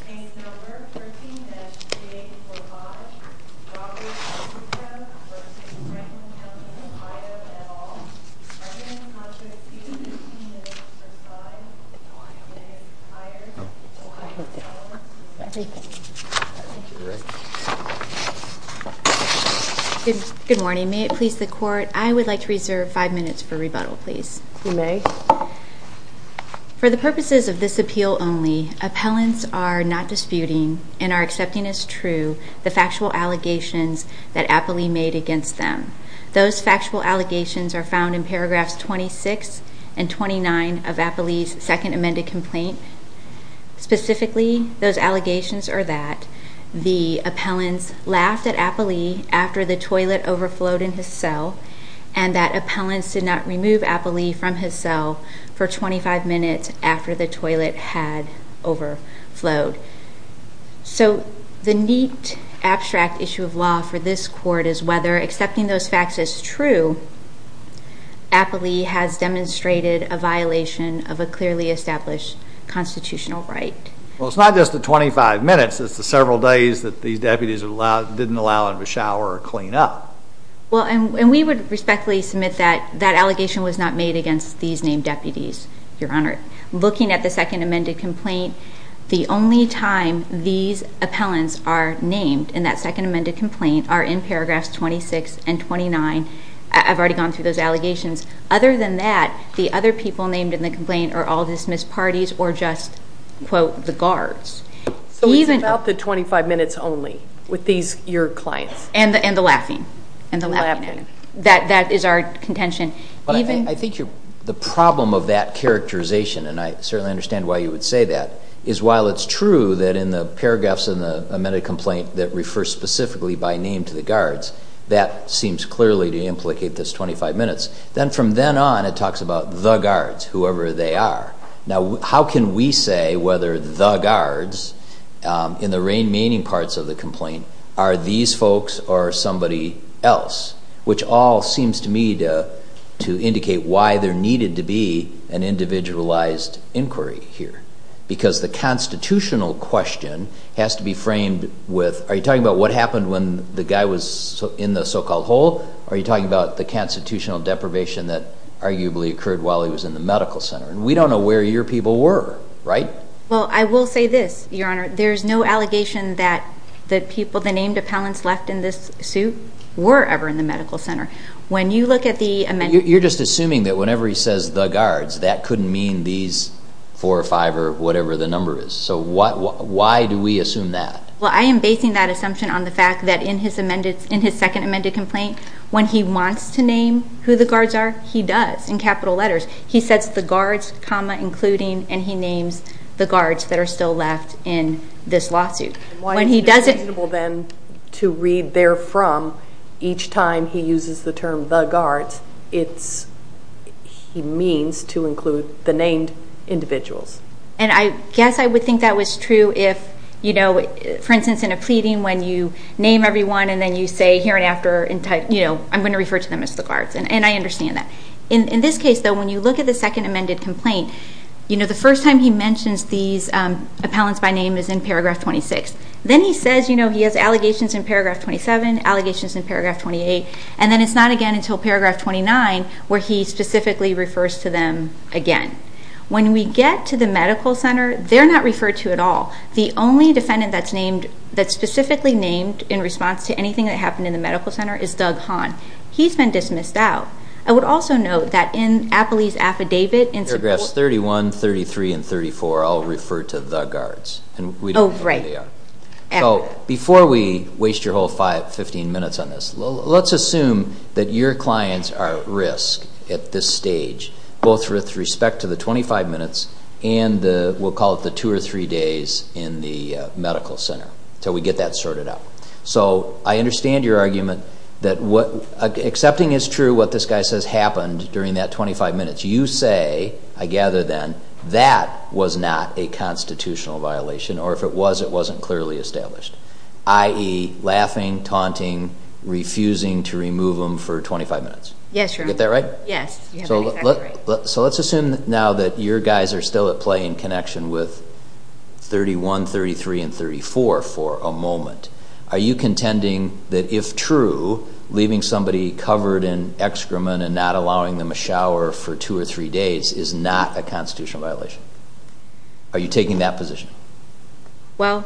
Page number 13-845. Dr. Krutko v. Franklin County Ohio et al. President-contractee, Ms. Versailles. Good morning. May it please the court, I would like to reserve five minutes for rebuttal, please. You may. For the purposes of this appeal only, appellants are not disputing and are accepting as true the factual allegations that Appley made against them. Those factual allegations are found in paragraphs 26 and 29 of Appley's second amended complaint. Specifically, those allegations are that the appellants laughed at Appley after the toilet overflowed in his cell and that appellants did not remove Appley from his cell for 25 minutes after the toilet had overflowed. So, the neat abstract issue of law for this court is whether accepting those facts as true, Appley has demonstrated a violation of a clearly established constitutional right. Well, it's not just the 25 minutes, it's the several days that these deputies didn't allow him to shower or clean up. Well, and we would respectfully submit that that allegation was not made against these named deputies, Your Honor. Looking at the second amended complaint, the only time these appellants are named in that second amended complaint are in paragraphs 26 and 29. I've already gone through those allegations. Other than that, the other people named in the complaint are all dismissed parties or just, quote, the guards. So, it's about the 25 minutes only with these your clients. And the laughing. And the laughing. That is our contention. I think the problem of that characterization and I certainly understand why you would say that, is while it's true that in the paragraphs in the amended complaint that refers specifically by name to the guards that seems clearly to implicate this 25 minutes. Then from then on, it talks about the guards, whoever they are. Now, how can we say whether the guards in the main parts of the complaint are these folks or somebody else? Which all seems to me to indicate why there needed to be an individualized inquiry here. Because the constitutional question has to be framed with, are you talking about what happened when the guy was in the so-called hole? Are you talking about the constitutional deprivation that arguably occurred while he was in the medical center? And we don't know where your people were, right? Well, I will say this, your honor. There's no allegation that the people, the named appellants left in this suit were ever in the medical center. When you look at the amended... You're just assuming that whenever he says the guards, that couldn't mean these four or five or whatever the number is. So why do we assume that? Well, I am basing that assumption on the fact that in his second amended complaint, when he wants to name who the guards are, he does in capital letters. He sets the guards, including, and he names the guards that are still left in this lawsuit. Why is it reasonable then to read therefrom each time he uses the term the guards? It's... He means to include the named individuals. And I guess I would think that was true if, you know, for instance in a pleading when you name everyone and then you say here and after, you know, I'm going to refer to them as the guards. And I understand that. In this case though, when you look at the second amended complaint, you know, the first time he mentions these appellants by name is in paragraph 26. Then he says, you know, he has allegations in paragraph 27, allegations in paragraph 28, and then it's not again until paragraph 29 where he specifically refers to them again. When we get to the medical center, they're not referred to at all. The only defendant that's named... That's specifically named in response to anything that happened in the medical center is Doug Hahn. He's been dismissed out. I would also note that in Appley's affidavit... Paragraphs 31, 33, and 34 all refer to the guards. Oh, right. Before we waste your whole 15 minutes on this, let's assume that your clients are at risk at this stage, both with respect to the 25 minutes and the, we'll call it the two or three days in the medical center until we get that sorted out. So I understand your argument that what... Accepting is true what this guy says happened during that 25 minutes. You say, I gather then, that was not a constitutional violation, or if it was, it wasn't clearly established. I.e., laughing, taunting, refusing to remove them for 25 minutes. Yes, Your Honor. Is that right? Yes, you have it exactly right. So let's assume now that your guys are still at play in connection with 31, 33, and 34 for a moment. Are you contending that if true, leaving somebody covered in excrement and not allowing them a shower for two or three days is not a constitutional violation? Are you taking that position? Well...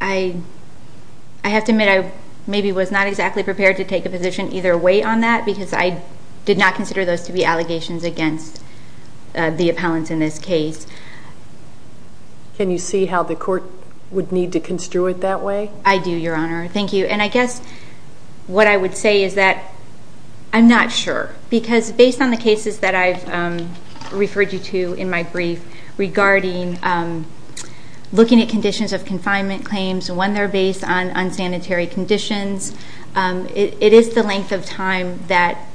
I... I have to admit I maybe was not exactly prepared to take a position either way on that because I did not consider those to be allegations against the appellants in this case. Can you see how the court would need to address that? Yes, Your Honor. Thank you. And I guess what I would say is that I'm not sure. Because based on the cases that I've referred you to in my brief regarding looking at conditions of confinement claims when they're based on unsanitary conditions, it is the length of time that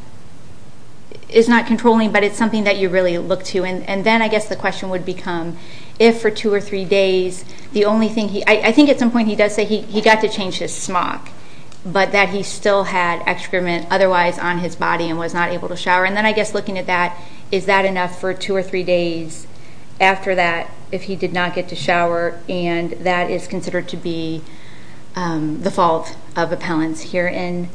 is not controlling, but it's something that you really look to. And then I guess the question would become, if for two or three days, the only thing I think at some point he does say he got to change his smock, but that he still had excrement otherwise on his body and was not able to shower. And then I guess looking at that, is that enough for two or three days after that if he did not get to shower and that is considered to be the fault of appellants herein?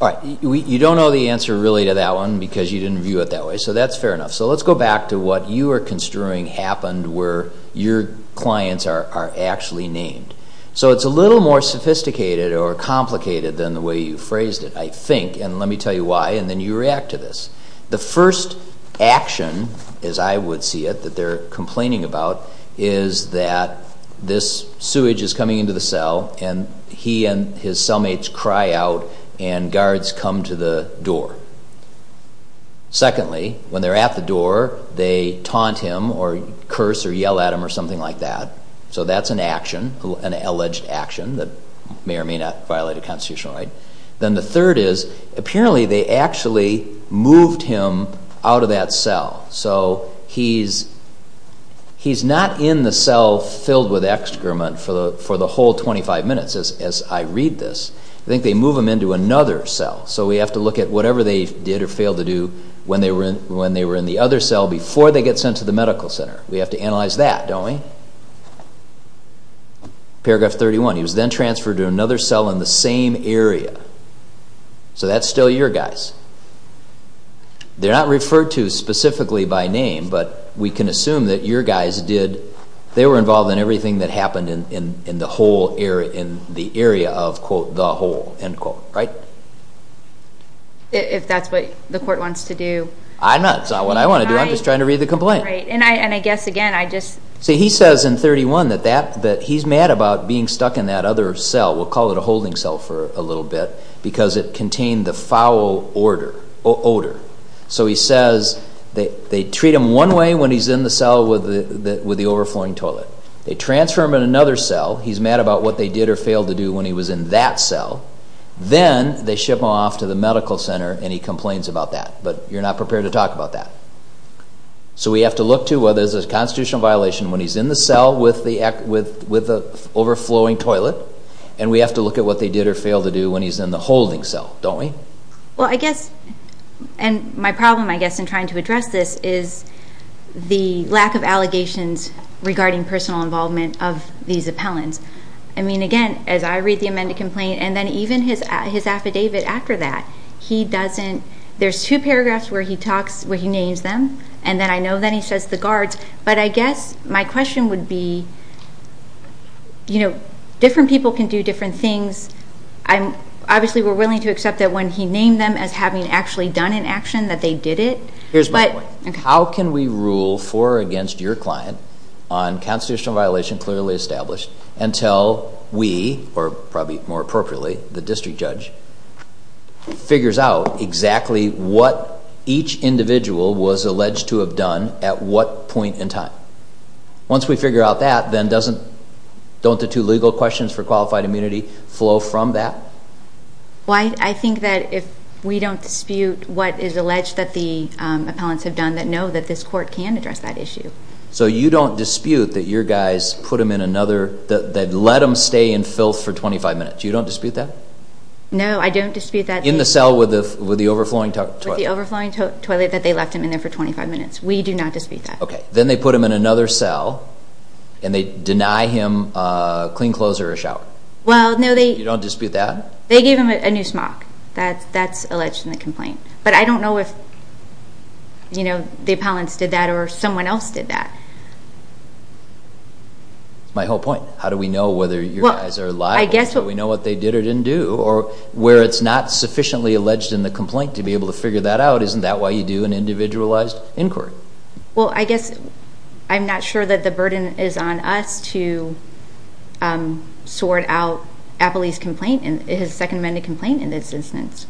All right. You don't know the answer really to that one because you didn't view it that way. So that's fair enough. So let's go back to what you are construing happened where your clients are actually named. So it's a little more sophisticated or complicated than the way you phrased it, I think. And let me tell you why. And then you react to this. The first action, as I would see it, that they're complaining about is that this sewage is coming into the cell and he and his cellmates cry out and guards come to the door. Secondly, when they're at the door, they curse or yell at him or something like that. So that's an action, an alleged action that may or may not violate a constitutional right. Then the third is apparently they actually moved him out of that cell. So he's not in the cell filled with excrement for the whole 25 minutes as I read this. I think they move him into another cell. So we have to look at whatever they did or failed to do when they were in the other cell before they get sent to the medical center. We have to analyze that, don't we? Paragraph 31. He was then transferred to another cell in the same area. So that's still your guys. They're not referred to specifically by name, but we can assume that your guys did, they were involved in everything that happened in the whole area, in the area of, quote, the whole, end quote. Right? If that's what the court wants to do. I'm not. It's not what I want to do. I'm just trying to read the complaint. See, he says in 31 that he's mad about being stuck in that other cell. We'll call it a holding cell for a little bit because it contained the foul odor. So he says they treat him one way when he's in the cell with the overflowing toilet. They transfer him in another cell. He's mad about what they did or failed to do when he was in that cell. Then they ship him off to the medical center and he complains about that. But you're not prepared to talk about that. So we have to look to whether there's a constitutional violation when he's in the cell with the overflowing toilet, and we have to look at what they did or failed to do when he's in the holding cell, don't we? My problem, I guess, in trying to address this is the lack of allegations regarding personal involvement of these appellants. I mean, again, as I read the amended complaint, and then even his cousin, there's two paragraphs where he names them, and then I know that he says the guards. But I guess my question would be different people can do different things. Obviously, we're willing to accept that when he named them as having actually done an action that they did it. Here's my point. How can we rule for or against your client on constitutional violation clearly established until we, or probably more appropriately, the district judge figures out exactly what each individual was alleged to have done at what point in time? Once we figure out that, then doesn't, don't the two legal questions for qualified immunity flow from that? I think that if we don't dispute what is alleged that the appellants have done, then no, that this court can address that issue. So you don't dispute that your guys put him in another, that let him stay in filth for 25 minutes. You don't dispute that? No, I don't dispute that. In the cell with the overflowing toilet? With the overflowing toilet that they left him in there for 25 minutes. We do not dispute that. Okay. Then they put him in another cell, and they deny him clean clothes or a shower. Well, no, they... You don't dispute that? They gave him a new smock. That's alleged in the complaint. But I don't know if, you know, the appellants did that or someone else did that. That's my whole point. How do we know whether your guys are liable? Do we know what they did or didn't do? Or where it's not sufficiently alleged in the complaint to be able to figure that out, isn't that why you do an individualized inquiry? Well, I guess I'm not sure that the burden is on us to sort out Appley's complaint, his second amended complaint in this instance.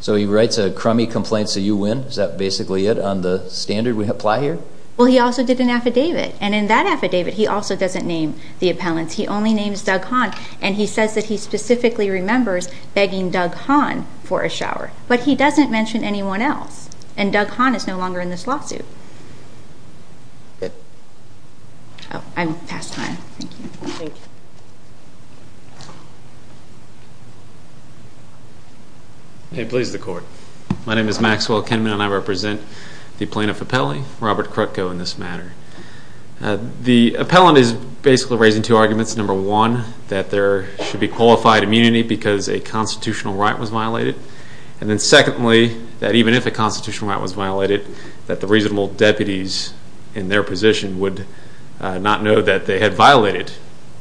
So he writes a crummy complaint so you win? Is that basically it on the standard we apply here? Well, he also did an affidavit. And in that affidavit, he also doesn't name the appellants. He only names Doug Hahn. And he says that he specifically remembers begging Doug Hahn for a shower. But he doesn't mention anyone else. And Doug Hahn is no longer in this lawsuit. Good. Oh, I'm past time. Thank you. Thank you. May it please the court. My name is Maxwell Kinman, and I represent the plaintiff appellee, Robert Krutko, in this matter. The appellant is basically raising two arguments. Number one, that there should be qualified immunity because a constitutional right was violated. And then secondly, that even if a constitutional right was violated, that the reasonable deputies in their position would not know that they had violated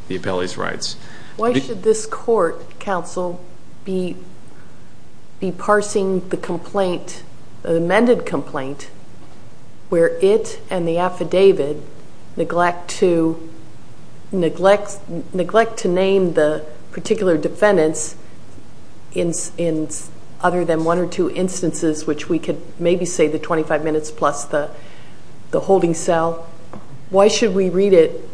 the appellee's rights. Why should this court, counsel, be parsing the complaint, the amended complaint, where it and the affidavit neglect to name the particular defendants in other than one or two instances, which we could maybe say the 25 minutes plus the holding cell? Why should we read it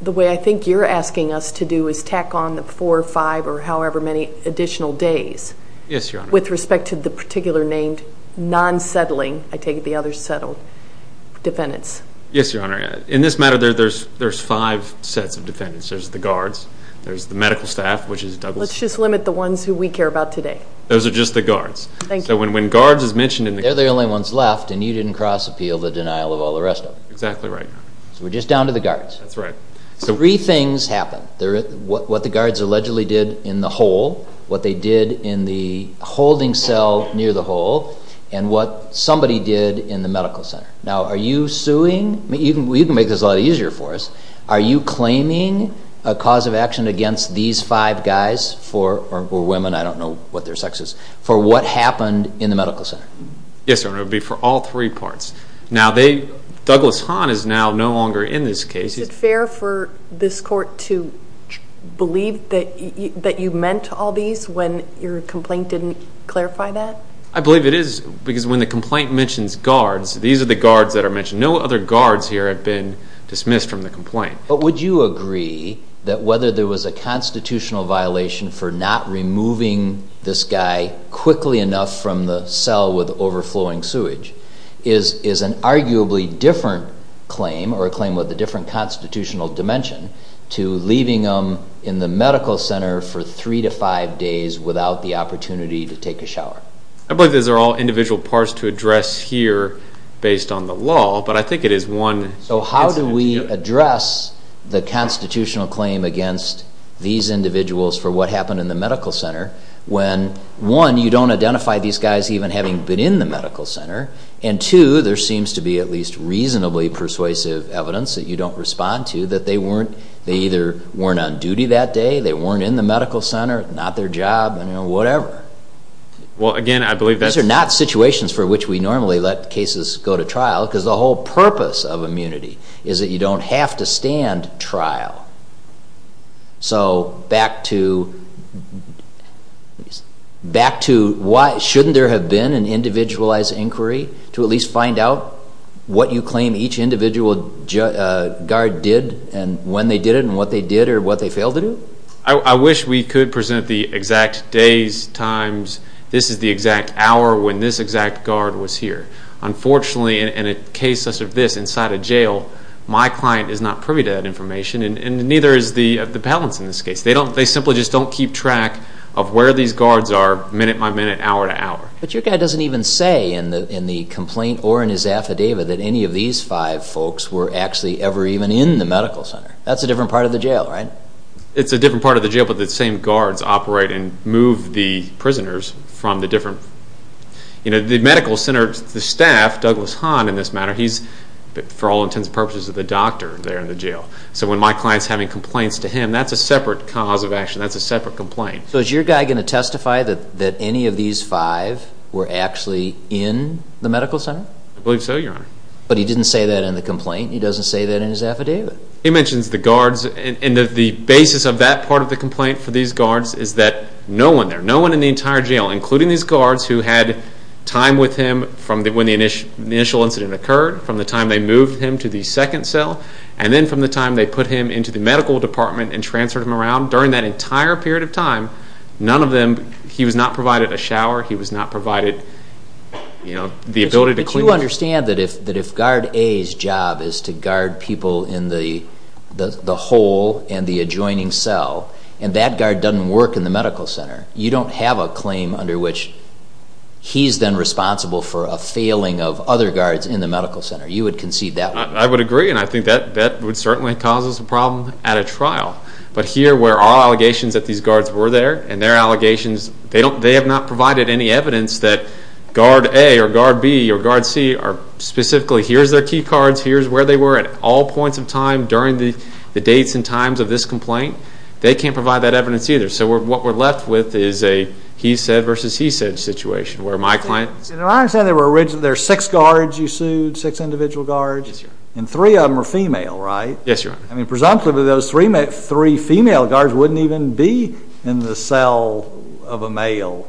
the way I think you're asking us to do, is tack on the four or five or however many additional days with respect to the particular named non-settling, I take it the other's settled, defendants? Yes, Your Honor. In this matter, there's five sets of defendants. There's the guards, there's the medical staff, which is Douglas... Let's just limit the ones who we care about today. Those are just the guards. Thank you. So when guards is mentioned... They're the only ones left, and you didn't cross-appeal the denial of all the rest of them. Exactly right. So we're just down to the guards. That's right. Three things happen. What the guards allegedly did in the hole, what they did in the hole, and what somebody did in the medical center. Now, are you suing... You can make this a lot easier for us. Are you claiming a cause of action against these five guys, or women, I don't know what their sex is, for what happened in the medical center? Yes, Your Honor. It would be for all three parts. Now, they... Douglas Hahn is now no longer in this case. Is it fair for this court to believe that you meant all these when your complaint didn't clarify that? I believe it is, because when the complaint mentions guards, these are the guards that are mentioned. No other guards here have been dismissed from the complaint. But would you agree that whether there was a constitutional violation for not removing this guy quickly enough from the cell with overflowing sewage is an arguably different claim, or a claim with a different constitutional dimension, to leaving them in the medical center for three to five days without the opportunity to take a shower? I believe these are all individual parts to address here based on the law, but I think it is one... So how do we address the constitutional claim against these individuals for what happened in the medical center when, one, you don't identify these guys even having been in the medical center, and two, there seems to be at least reasonably persuasive evidence that you don't respond to that they either weren't on duty that day, they weren't in the medical center, not their job, whatever. These are not situations for which we normally let cases go to trial, because the whole purpose of immunity is that you don't have to stand trial. So back to... Shouldn't there have been an individualized inquiry to at least find out what you claim each individual guard did and when they did it and what they did or what they failed to do? I wish we could present the exact days, times, this is the exact hour when this exact guard was here. Unfortunately, in a case such as this, inside a jail, my client is not privy to that information, and neither is the appellants in this case. They simply just don't keep track of where these guards are minute by minute, hour to hour. But your guy doesn't even say in the complaint or in his affidavit that any of these five folks were actually ever even in the medical center. That's a different part of the jail, right? It's a different part of the jail, but the same guards operate and move the prisoners from the different... The medical center staff, Douglas Hahn in this matter, he's, for all intents and purposes, the doctor there in the jail. So when my client's having complaints to him, that's a separate cause of action, that's a separate complaint. So is your guy going to testify that any of these five were actually in the medical center? I believe so, your honor. But he didn't say that in the complaint, he doesn't say that in his affidavit. He mentions the guards and the basis of that part of the complaint for these guards is that no one there, no one in the entire jail, including these guards who had time with him from when the initial incident occurred, from the time they moved him to the second cell, and then from the time they put him into the medical department and transferred him around, during that entire period of time, none of them... He was not provided a shower, he was not provided the ability to if guard A's job is to guard people in the hole and the adjoining cell, and that guard doesn't work in the medical center, you don't have a claim under which he's then responsible for a failing of other guards in the medical center. You would concede that way. I would agree, and I think that would certainly cause us a problem at a trial. But here, where our allegations that these guards were there, and their allegations, they have not provided any evidence that guard A or guard B or guard C are specifically, here's their key cards, here's where they were at all points of time during the dates and times of this complaint, they can't provide that evidence either. So what we're left with is a he said versus he said situation, where my client... I understand there were six guards you sued, six individual guards, and three of them were female, right? Yes, Your Honor. I mean, presumptively those three female guards wouldn't even be in the cell of a male.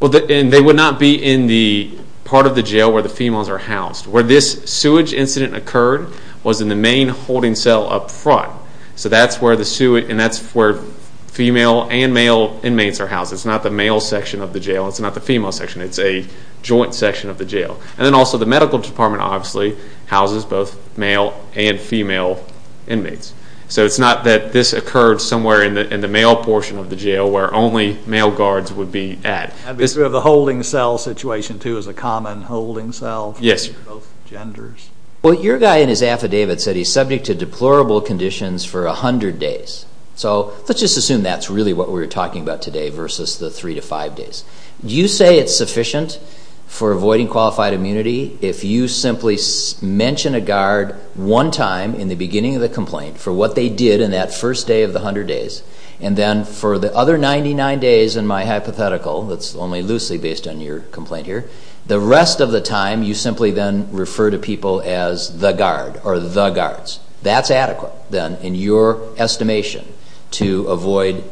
Well, and they would not be in the part of the jail where the females are housed. Where this sewage incident occurred was in the main holding cell up front. So that's where the sewage, and that's where female and male inmates are housed. It's not the male section of the jail. It's not the female section. It's a joint section of the jail. And then also the medical department obviously houses both male and female inmates. So it's not that this occurred somewhere in the male portion of the jail where only male guards would be at. So the holding cell situation too is a common holding cell for both genders? Yes. Well, your guy in his affidavit said he's subject to deplorable conditions for a hundred days. So let's just assume that's really what we're talking about today versus the three to five days. Do you say it's sufficient for avoiding qualified immunity if you simply mention a guard one time in the beginning of the complaint for what they did in that first day of the hundred days, and then for the other 99 days in my hypothetical, that's only loosely based on your complaint here, the rest of the time you simply then refer to people as the guard or the guards. That's adequate then in your estimation to avoid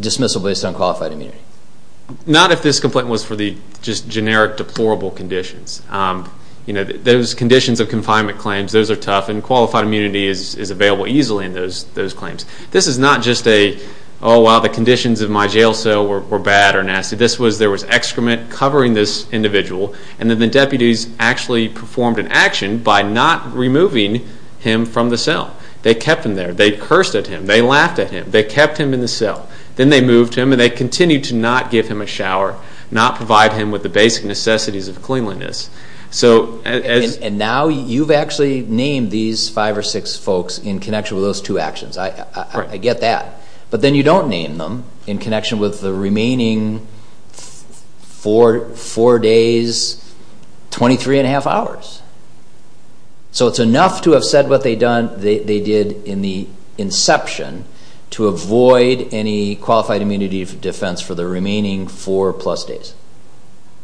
dismissal based on qualified immunity? Not if this complaint was for the just generic deplorable conditions. Those conditions of confinement claims, those are tough, and qualified immunity is available easily in those claims. This is not just a, oh, wow, the conditions of my jail cell were bad or nasty. This was there was excrement covering this individual, and then the deputies actually performed an action by not removing him from the cell. They kept him there. They cursed at him. They laughed at him. They kept him in the cell. Then they moved him, and they continued to not give him a shower, not provide him with the basic necessities of cleanliness. And now you've actually named these five or six folks in connection with those two actions. I get that. But then you don't name them in connection with the remaining four days, 23 and a half hours. So it's enough to have said what they did in the inception to avoid any qualified immunity defense for the remaining four plus days.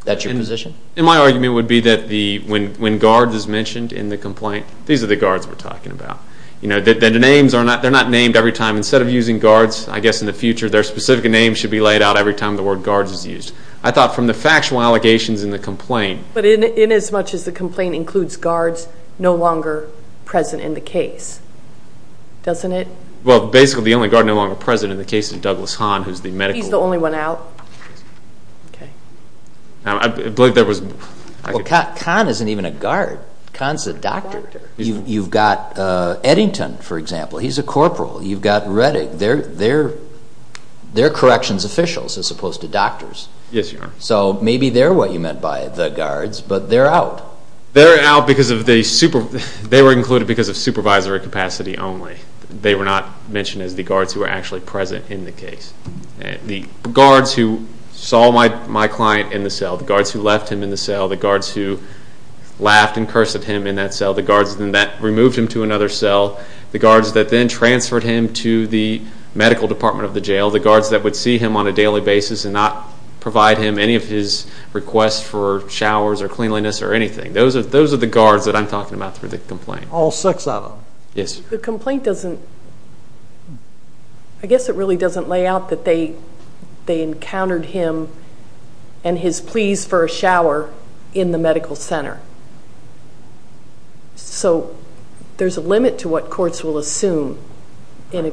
That's your position? And my argument would be that when guard is mentioned in the complaint, these are the guards we're talking about. The names, they're not named every time. Instead of using guards, I guess in the future, their specific names should be laid out every time the word guards is used. I thought from the factual allegations in the complaint... But in as much as the complaint includes guards no longer present in the case, doesn't it? Well, basically the only guard no longer present in the case is Douglas Hahn, who's the medical... He's the only one out. I believe there was... Well, Kahn isn't even a guard. Kahn's a doctor. You've got Eddington, for example. He's a corporal. You've got Rettig. They're corrections officials as opposed to doctors. Yes, Your Honor. So maybe they're what you meant by the guards, but they're out. They're out because of the supervisory capacity only. They were not mentioned as the guards who were actually present in the case. The guards who saw my client in the cell, the guards who left him in the cell, the guards that incursed at him in that cell, the guards that removed him to another cell, the guards that then transferred him to the medical department of the jail, the guards that would see him on a daily basis and not provide him any of his requests for showers or cleanliness or anything. Those are the guards that I'm talking about through the complaint. All six of them? Yes. The complaint doesn't... I guess it really doesn't lay out that they encountered him and his pleas for a shower in the medical center. So there's a limit to what courts will assume in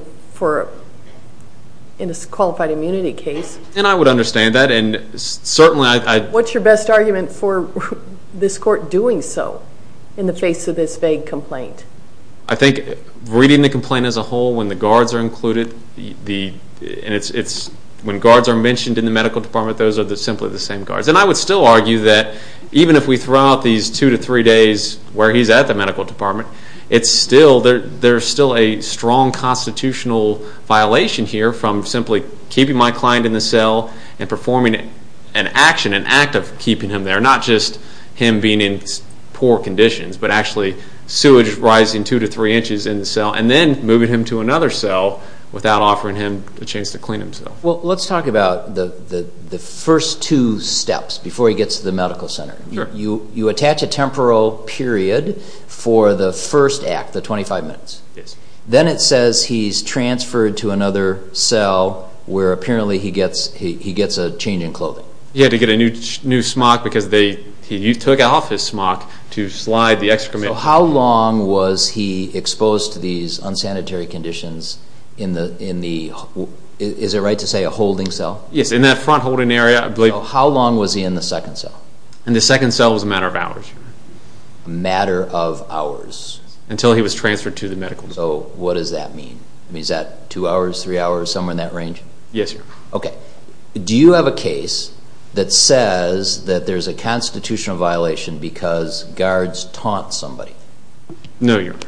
a qualified immunity case. And I would understand that and certainly... What's your best argument for this court doing so in the face of this vague complaint? I think reading the complaint as a whole, when the guards are included, when guards are mentioned in the medical department, those are simply the same guards. And I would still argue that even if we throw out these two to three days where he's at the medical department, there's still a strong constitutional violation here from simply keeping my client in the cell and performing an action, an act of keeping him there. Not just him being in poor conditions, but actually sewage rising two to three inches in the cell and then moving him to another cell without offering him a chance to clean himself. Well, let's talk about the first two steps before he gets to the medical center. You attach a temporal period for the first act, the 25 minutes. Then it says he's transferred to another cell where apparently he gets a change in clothing. He had to get a new smock because he took off his smock to slide the excrement... So how long was he exposed to these unsanitary conditions in the... Is it right to say a holding cell? Yes, in that front holding area. How long was he in the second cell? In the second cell it was a matter of hours. A matter of hours? Until he was transferred to the medical... So what does that mean? Is that two hours, three hours, somewhere in that range? Yes, Your Honor. Okay. Do you have a case that says that there's a constitutional violation because guards taunt somebody? No, Your Honor.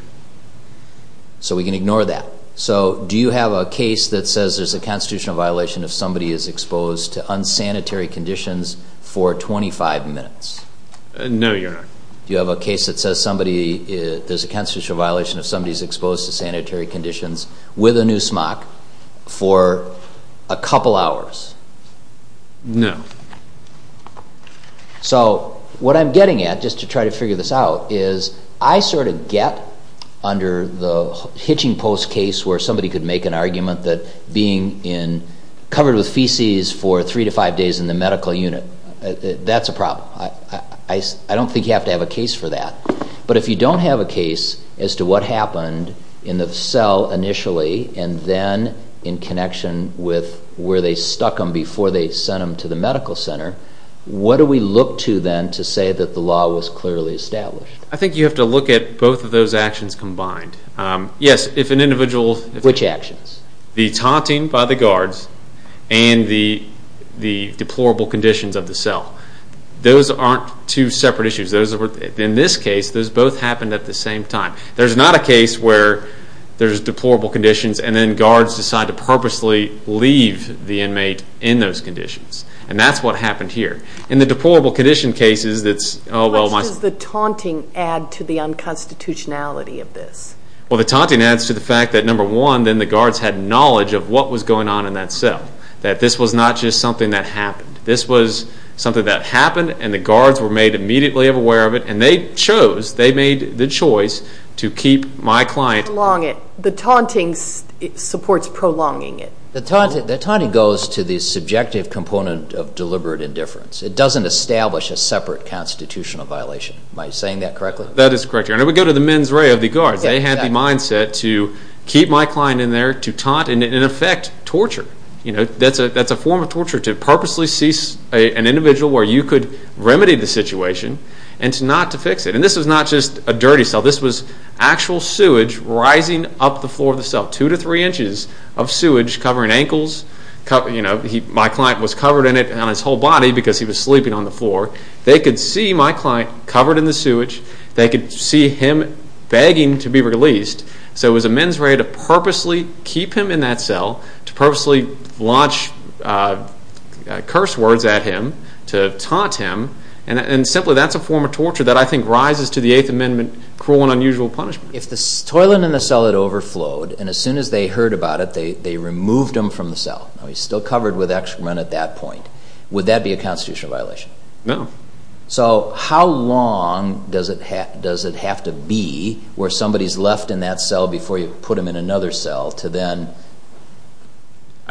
So we can ignore that. So do you have a case that says there's a constitutional violation if somebody is exposed to unsanitary conditions for 25 minutes? No, Your Honor. Do you have a case that says somebody... there's a constitutional violation if somebody's exposed to sanitary conditions with a new smock for a couple hours? No. So what I'm getting at, just to try to figure this out, is I sort of get under the hitching post case where somebody could make an argument that being covered with feces for three to five days in the medical unit, that's a problem. I don't think you have to have a case for that. But if you don't have a case as to what happened in the cell initially and then in connection with where they stuck him before they sent him to the medical center, what do we look to then to say that the law was clearly established? I think you have to look at both of those actions combined. Which actions? The taunting by the guards and the deplorable conditions of the cell. Those aren't two separate issues. In this case, those both happened at the same time. There's not a case where there's deplorable conditions and then guards decide to purposely leave the inmate in those conditions. And that's what happened here. In the deplorable condition cases, What does the taunting add to the unconstitutionality of this? Well, the taunting adds to the fact that, number one, the guards had knowledge of what was going on in that cell. That this was not just something that happened. This was something that happened and the guards were made immediately aware of it and they chose, they made the choice to keep my client The taunting supports prolonging it. The taunting goes to the subjective component of deliberate indifference. It doesn't establish a separate constitutional violation. Am I saying that correctly? That is correct. And we go to the mens rea of the guards. They had the mindset to keep my client in there, to taunt, and in effect, torture. That's a form of torture to purposely seize an individual where you could remedy the situation and not to fix it. And this was not just a dirty cell. This was actual sewage rising up the floor of the cell. Two to three inches of sewage covering ankles. My client was covered in it on his whole body because he was sleeping on the floor. They could see my client covered in the sewage. They could see him begging to be released. So it was a mens rea to purposely keep him in that cell to purposely launch curse words at him to taunt him. And simply, that's a form of torture that I think rises to the Eighth Amendment cruel and unusual punishment. If the toilet in the cell had overflowed and as soon as they heard about it, they removed him from the cell. He's still covered with excrement at that point. Would that be a constitutional violation? No. So how long does it have to be where somebody is left in that cell before you put him in another cell to then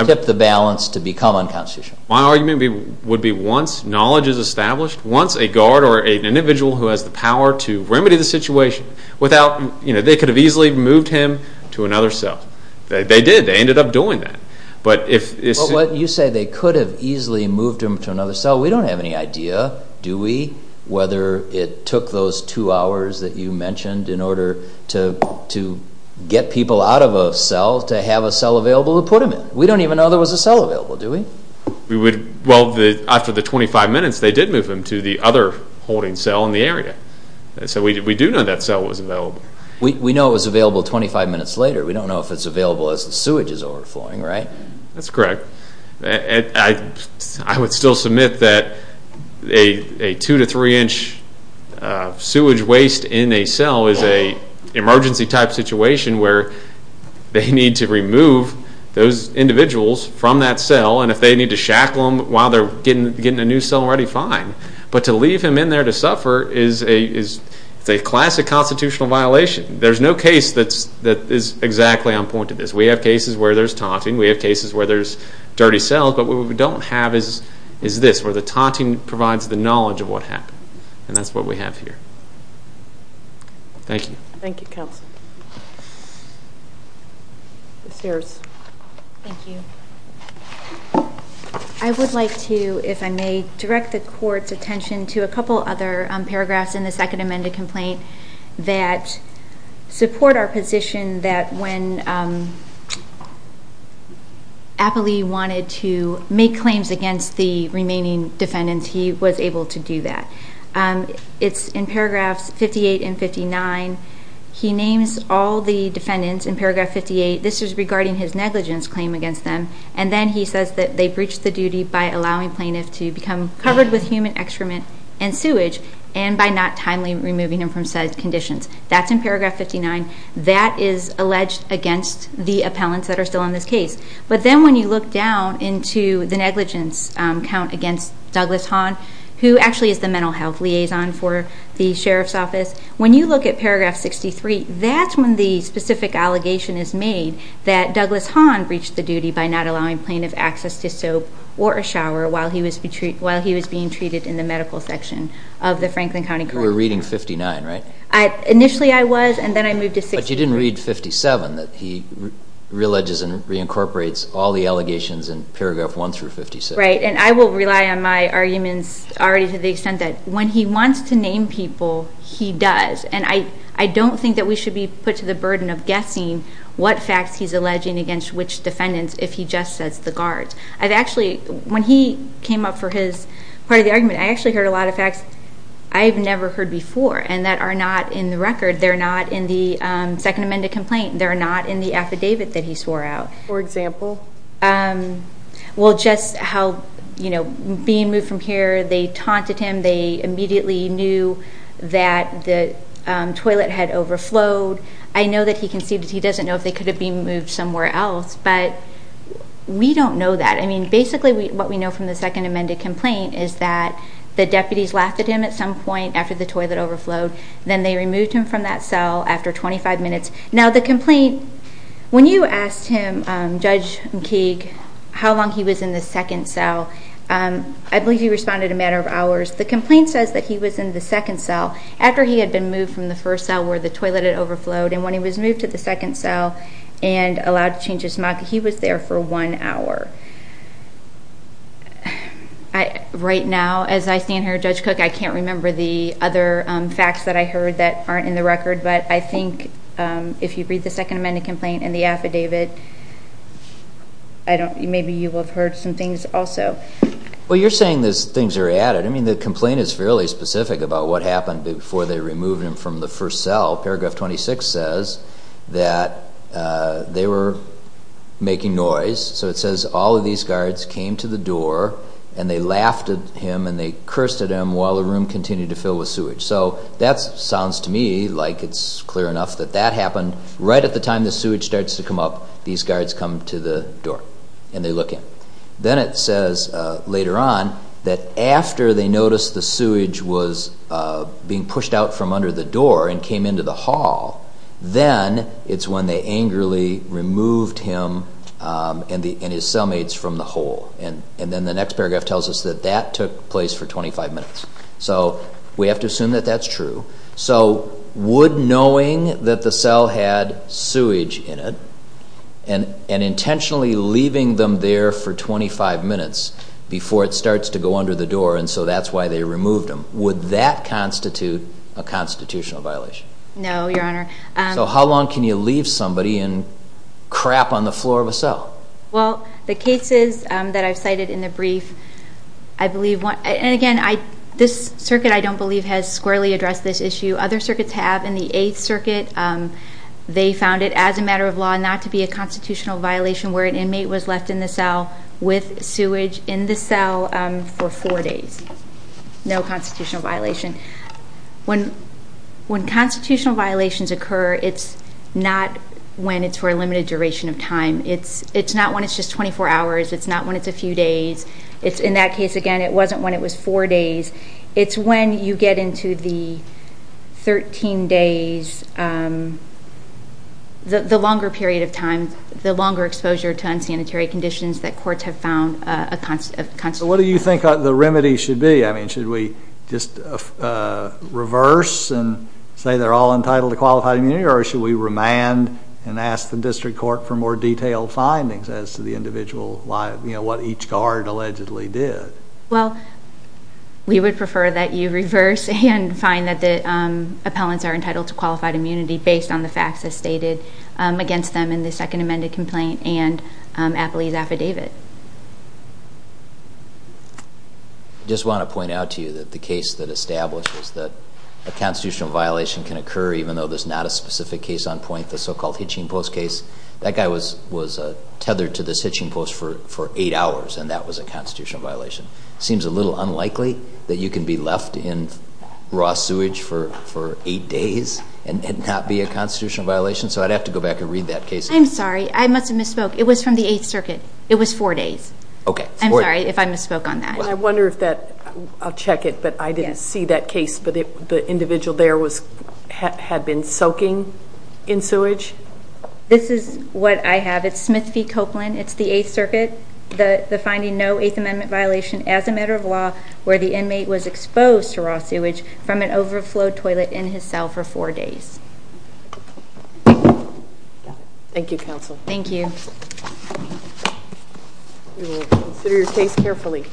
tip the balance to become unconstitutional? My argument would be once knowledge is established, once a guard or an individual who has the power to remedy the situation without they could have easily moved him to another cell. They did. They ended up doing that. You say they could have easily moved him to another cell. We don't have any idea, do we, whether it took those two hours that you mentioned in order to get people out of a cell to have a cell available to put him in. We don't even know there was a cell available, do we? After the 25 minutes, they did move him to the other holding cell in the area. So we do know that cell was available. We know it was available 25 minutes later. We don't know if it's available as the sewage is overflowing, right? That's correct. I would still submit that a two to three inch sewage waste in a cell is an emergency type situation where they need to remove those individuals from that cell and if they need to shackle them while they're getting a new cell ready, fine. But to leave him in there to suffer is a classic constitutional violation. There's no case that is exactly on point to this. We have cases where there's taunting. We have cases where there's dirty cells. But what we don't have is this, where the taunting provides the knowledge of what happened. And that's what we have here. Thank you. Thank you, Counsel. Ms. Harris. Thank you. I would like to, if I may, direct the Court's attention to a couple other paragraphs in the Second Amendment complaint that support our position that when Appley wanted to make claims against the remaining defendants, he was able to do that. It's in paragraphs 58 and 59. He names all the defendants in paragraph 58. This is regarding his negligence claim against them. And then he says that they breached the duty by allowing plaintiffs to become covered with human excrement and sewage and by not timely removing him from said conditions. That's in paragraph 59. That is alleged against the appellants that are still in this case. But then when you look down into the negligence count against Douglas Hahn, who actually is the mental health liaison for the Sheriff's Office, when you look at paragraph 63, that's when the specific allegation is made that Douglas Hahn breached the duty by not allowing plaintiff access to soap or a shower while he was being treated in the medical section of the Franklin County Courthouse. You were reading 59, right? Initially I was, and then I moved to 63. But you didn't read 57, that he re-alleges and reincorporates all the allegations in paragraph 1 through 56. Right, and I will rely on my arguments already to the extent that when he wants to name people, he does. And I don't think that we should be put to the burden of guessing what facts he's alleging against which defendants if he just says the guards. I've actually, when he came up for his part of the argument, I actually heard a lot of facts I've never heard before and that are not in the record. They're not in the Second Amendment complaint. They're not in the affidavit that he swore out. For example? Well, just how being moved from here, they taunted him, they immediately knew that the toilet had overflowed. I know that he can see that he doesn't know if they could have been moved somewhere else, but we don't know that. I mean, basically what we know from the Second Amendment complaint is that the deputies laughed at him at some point after the toilet overflowed. Then they removed him from that cell after 25 minutes. Now the complaint, when you asked him, Judge McKeague, how long he was in the second cell, I believe you responded a matter of hours. The complaint says that he was in the second cell after he had been moved from the first cell where the toilet had overflowed. And when he was moved to the second cell and allowed to change his mug, he was there for one hour. Right now, as I stand here Judge Cook, I can't remember the other facts that I heard that aren't in the record, but I think if you read the Second Amendment complaint and the affidavit, maybe you will have heard some things also. Well, you're saying those things are added. I mean, the complaint is fairly specific about what happened before they removed him from the first cell. Paragraph 26 says that they were making noise. So it says all of these guards came to the door and they laughed at him and they cursed at him while the room continued to fill with sewage. So that sounds to me like it's clear enough that that happened right at the time the sewage starts to come up, these guards come to the door and they look in. Then it says later on that after they noticed the sewage was being pushed out from under the hall, then it's when they angrily removed him and his cellmates from the hole. And then the next paragraph tells us that that took place for 25 minutes. So we have to assume that that's true. So would knowing that the cell had sewage in it and intentionally leaving them there for 25 minutes before it starts to go under the door, and so that's why they removed them, would that constitute a constitutional violation? No, Your Honor. So how long can you leave somebody and crap on the floor of a cell? Well the cases that I've cited in the brief, I believe and again, this circuit I don't believe has squarely addressed this issue. Other circuits have. In the 8th Circuit, they found it as a matter of law not to be a constitutional violation where an inmate was left in the cell with sewage in the cell for four days. No constitutional violation. When constitutional violations occur, it's not when it's for a limited duration of time. It's not when it's just 24 hours. It's not when it's a few days. In that case again, it wasn't when it was four days. It's when you get into the 13 days, the longer period of time, the longer exposure to unsanitary conditions that courts have found a constitutional violation. So what do you think the remedy should be? Should we just reverse and say they're all entitled to qualified immunity or should we remand and ask the district court for more detailed findings as to the individual what each guard allegedly did? Well we would prefer that you reverse and find that the appellants are entitled to qualified immunity based on the facts as stated against them in the second amended complaint and Apley's affidavit. I just want to point out to you that the case that established was that a constitutional violation can occur even though there's not a specific case on point. The so-called hitching post case that guy was tethered to this hitching post for eight hours and that was a constitutional violation. It seems a little unlikely that you can be left in raw sewage for eight days and not be a constitutional violation. So I'd have to go back and read that case. I'm sorry. I must have spoken on that. I wonder if that individual there had been soaking in sewage? This is what I have. It's Smith v. Copeland. It's the Eighth Circuit. Defining no Eighth Amendment violation as a matter of law where the inmate was exposed to raw sewage from an overflow toilet in his cell for four days. Thank you counsel. Thank you. We will consider your case carefully.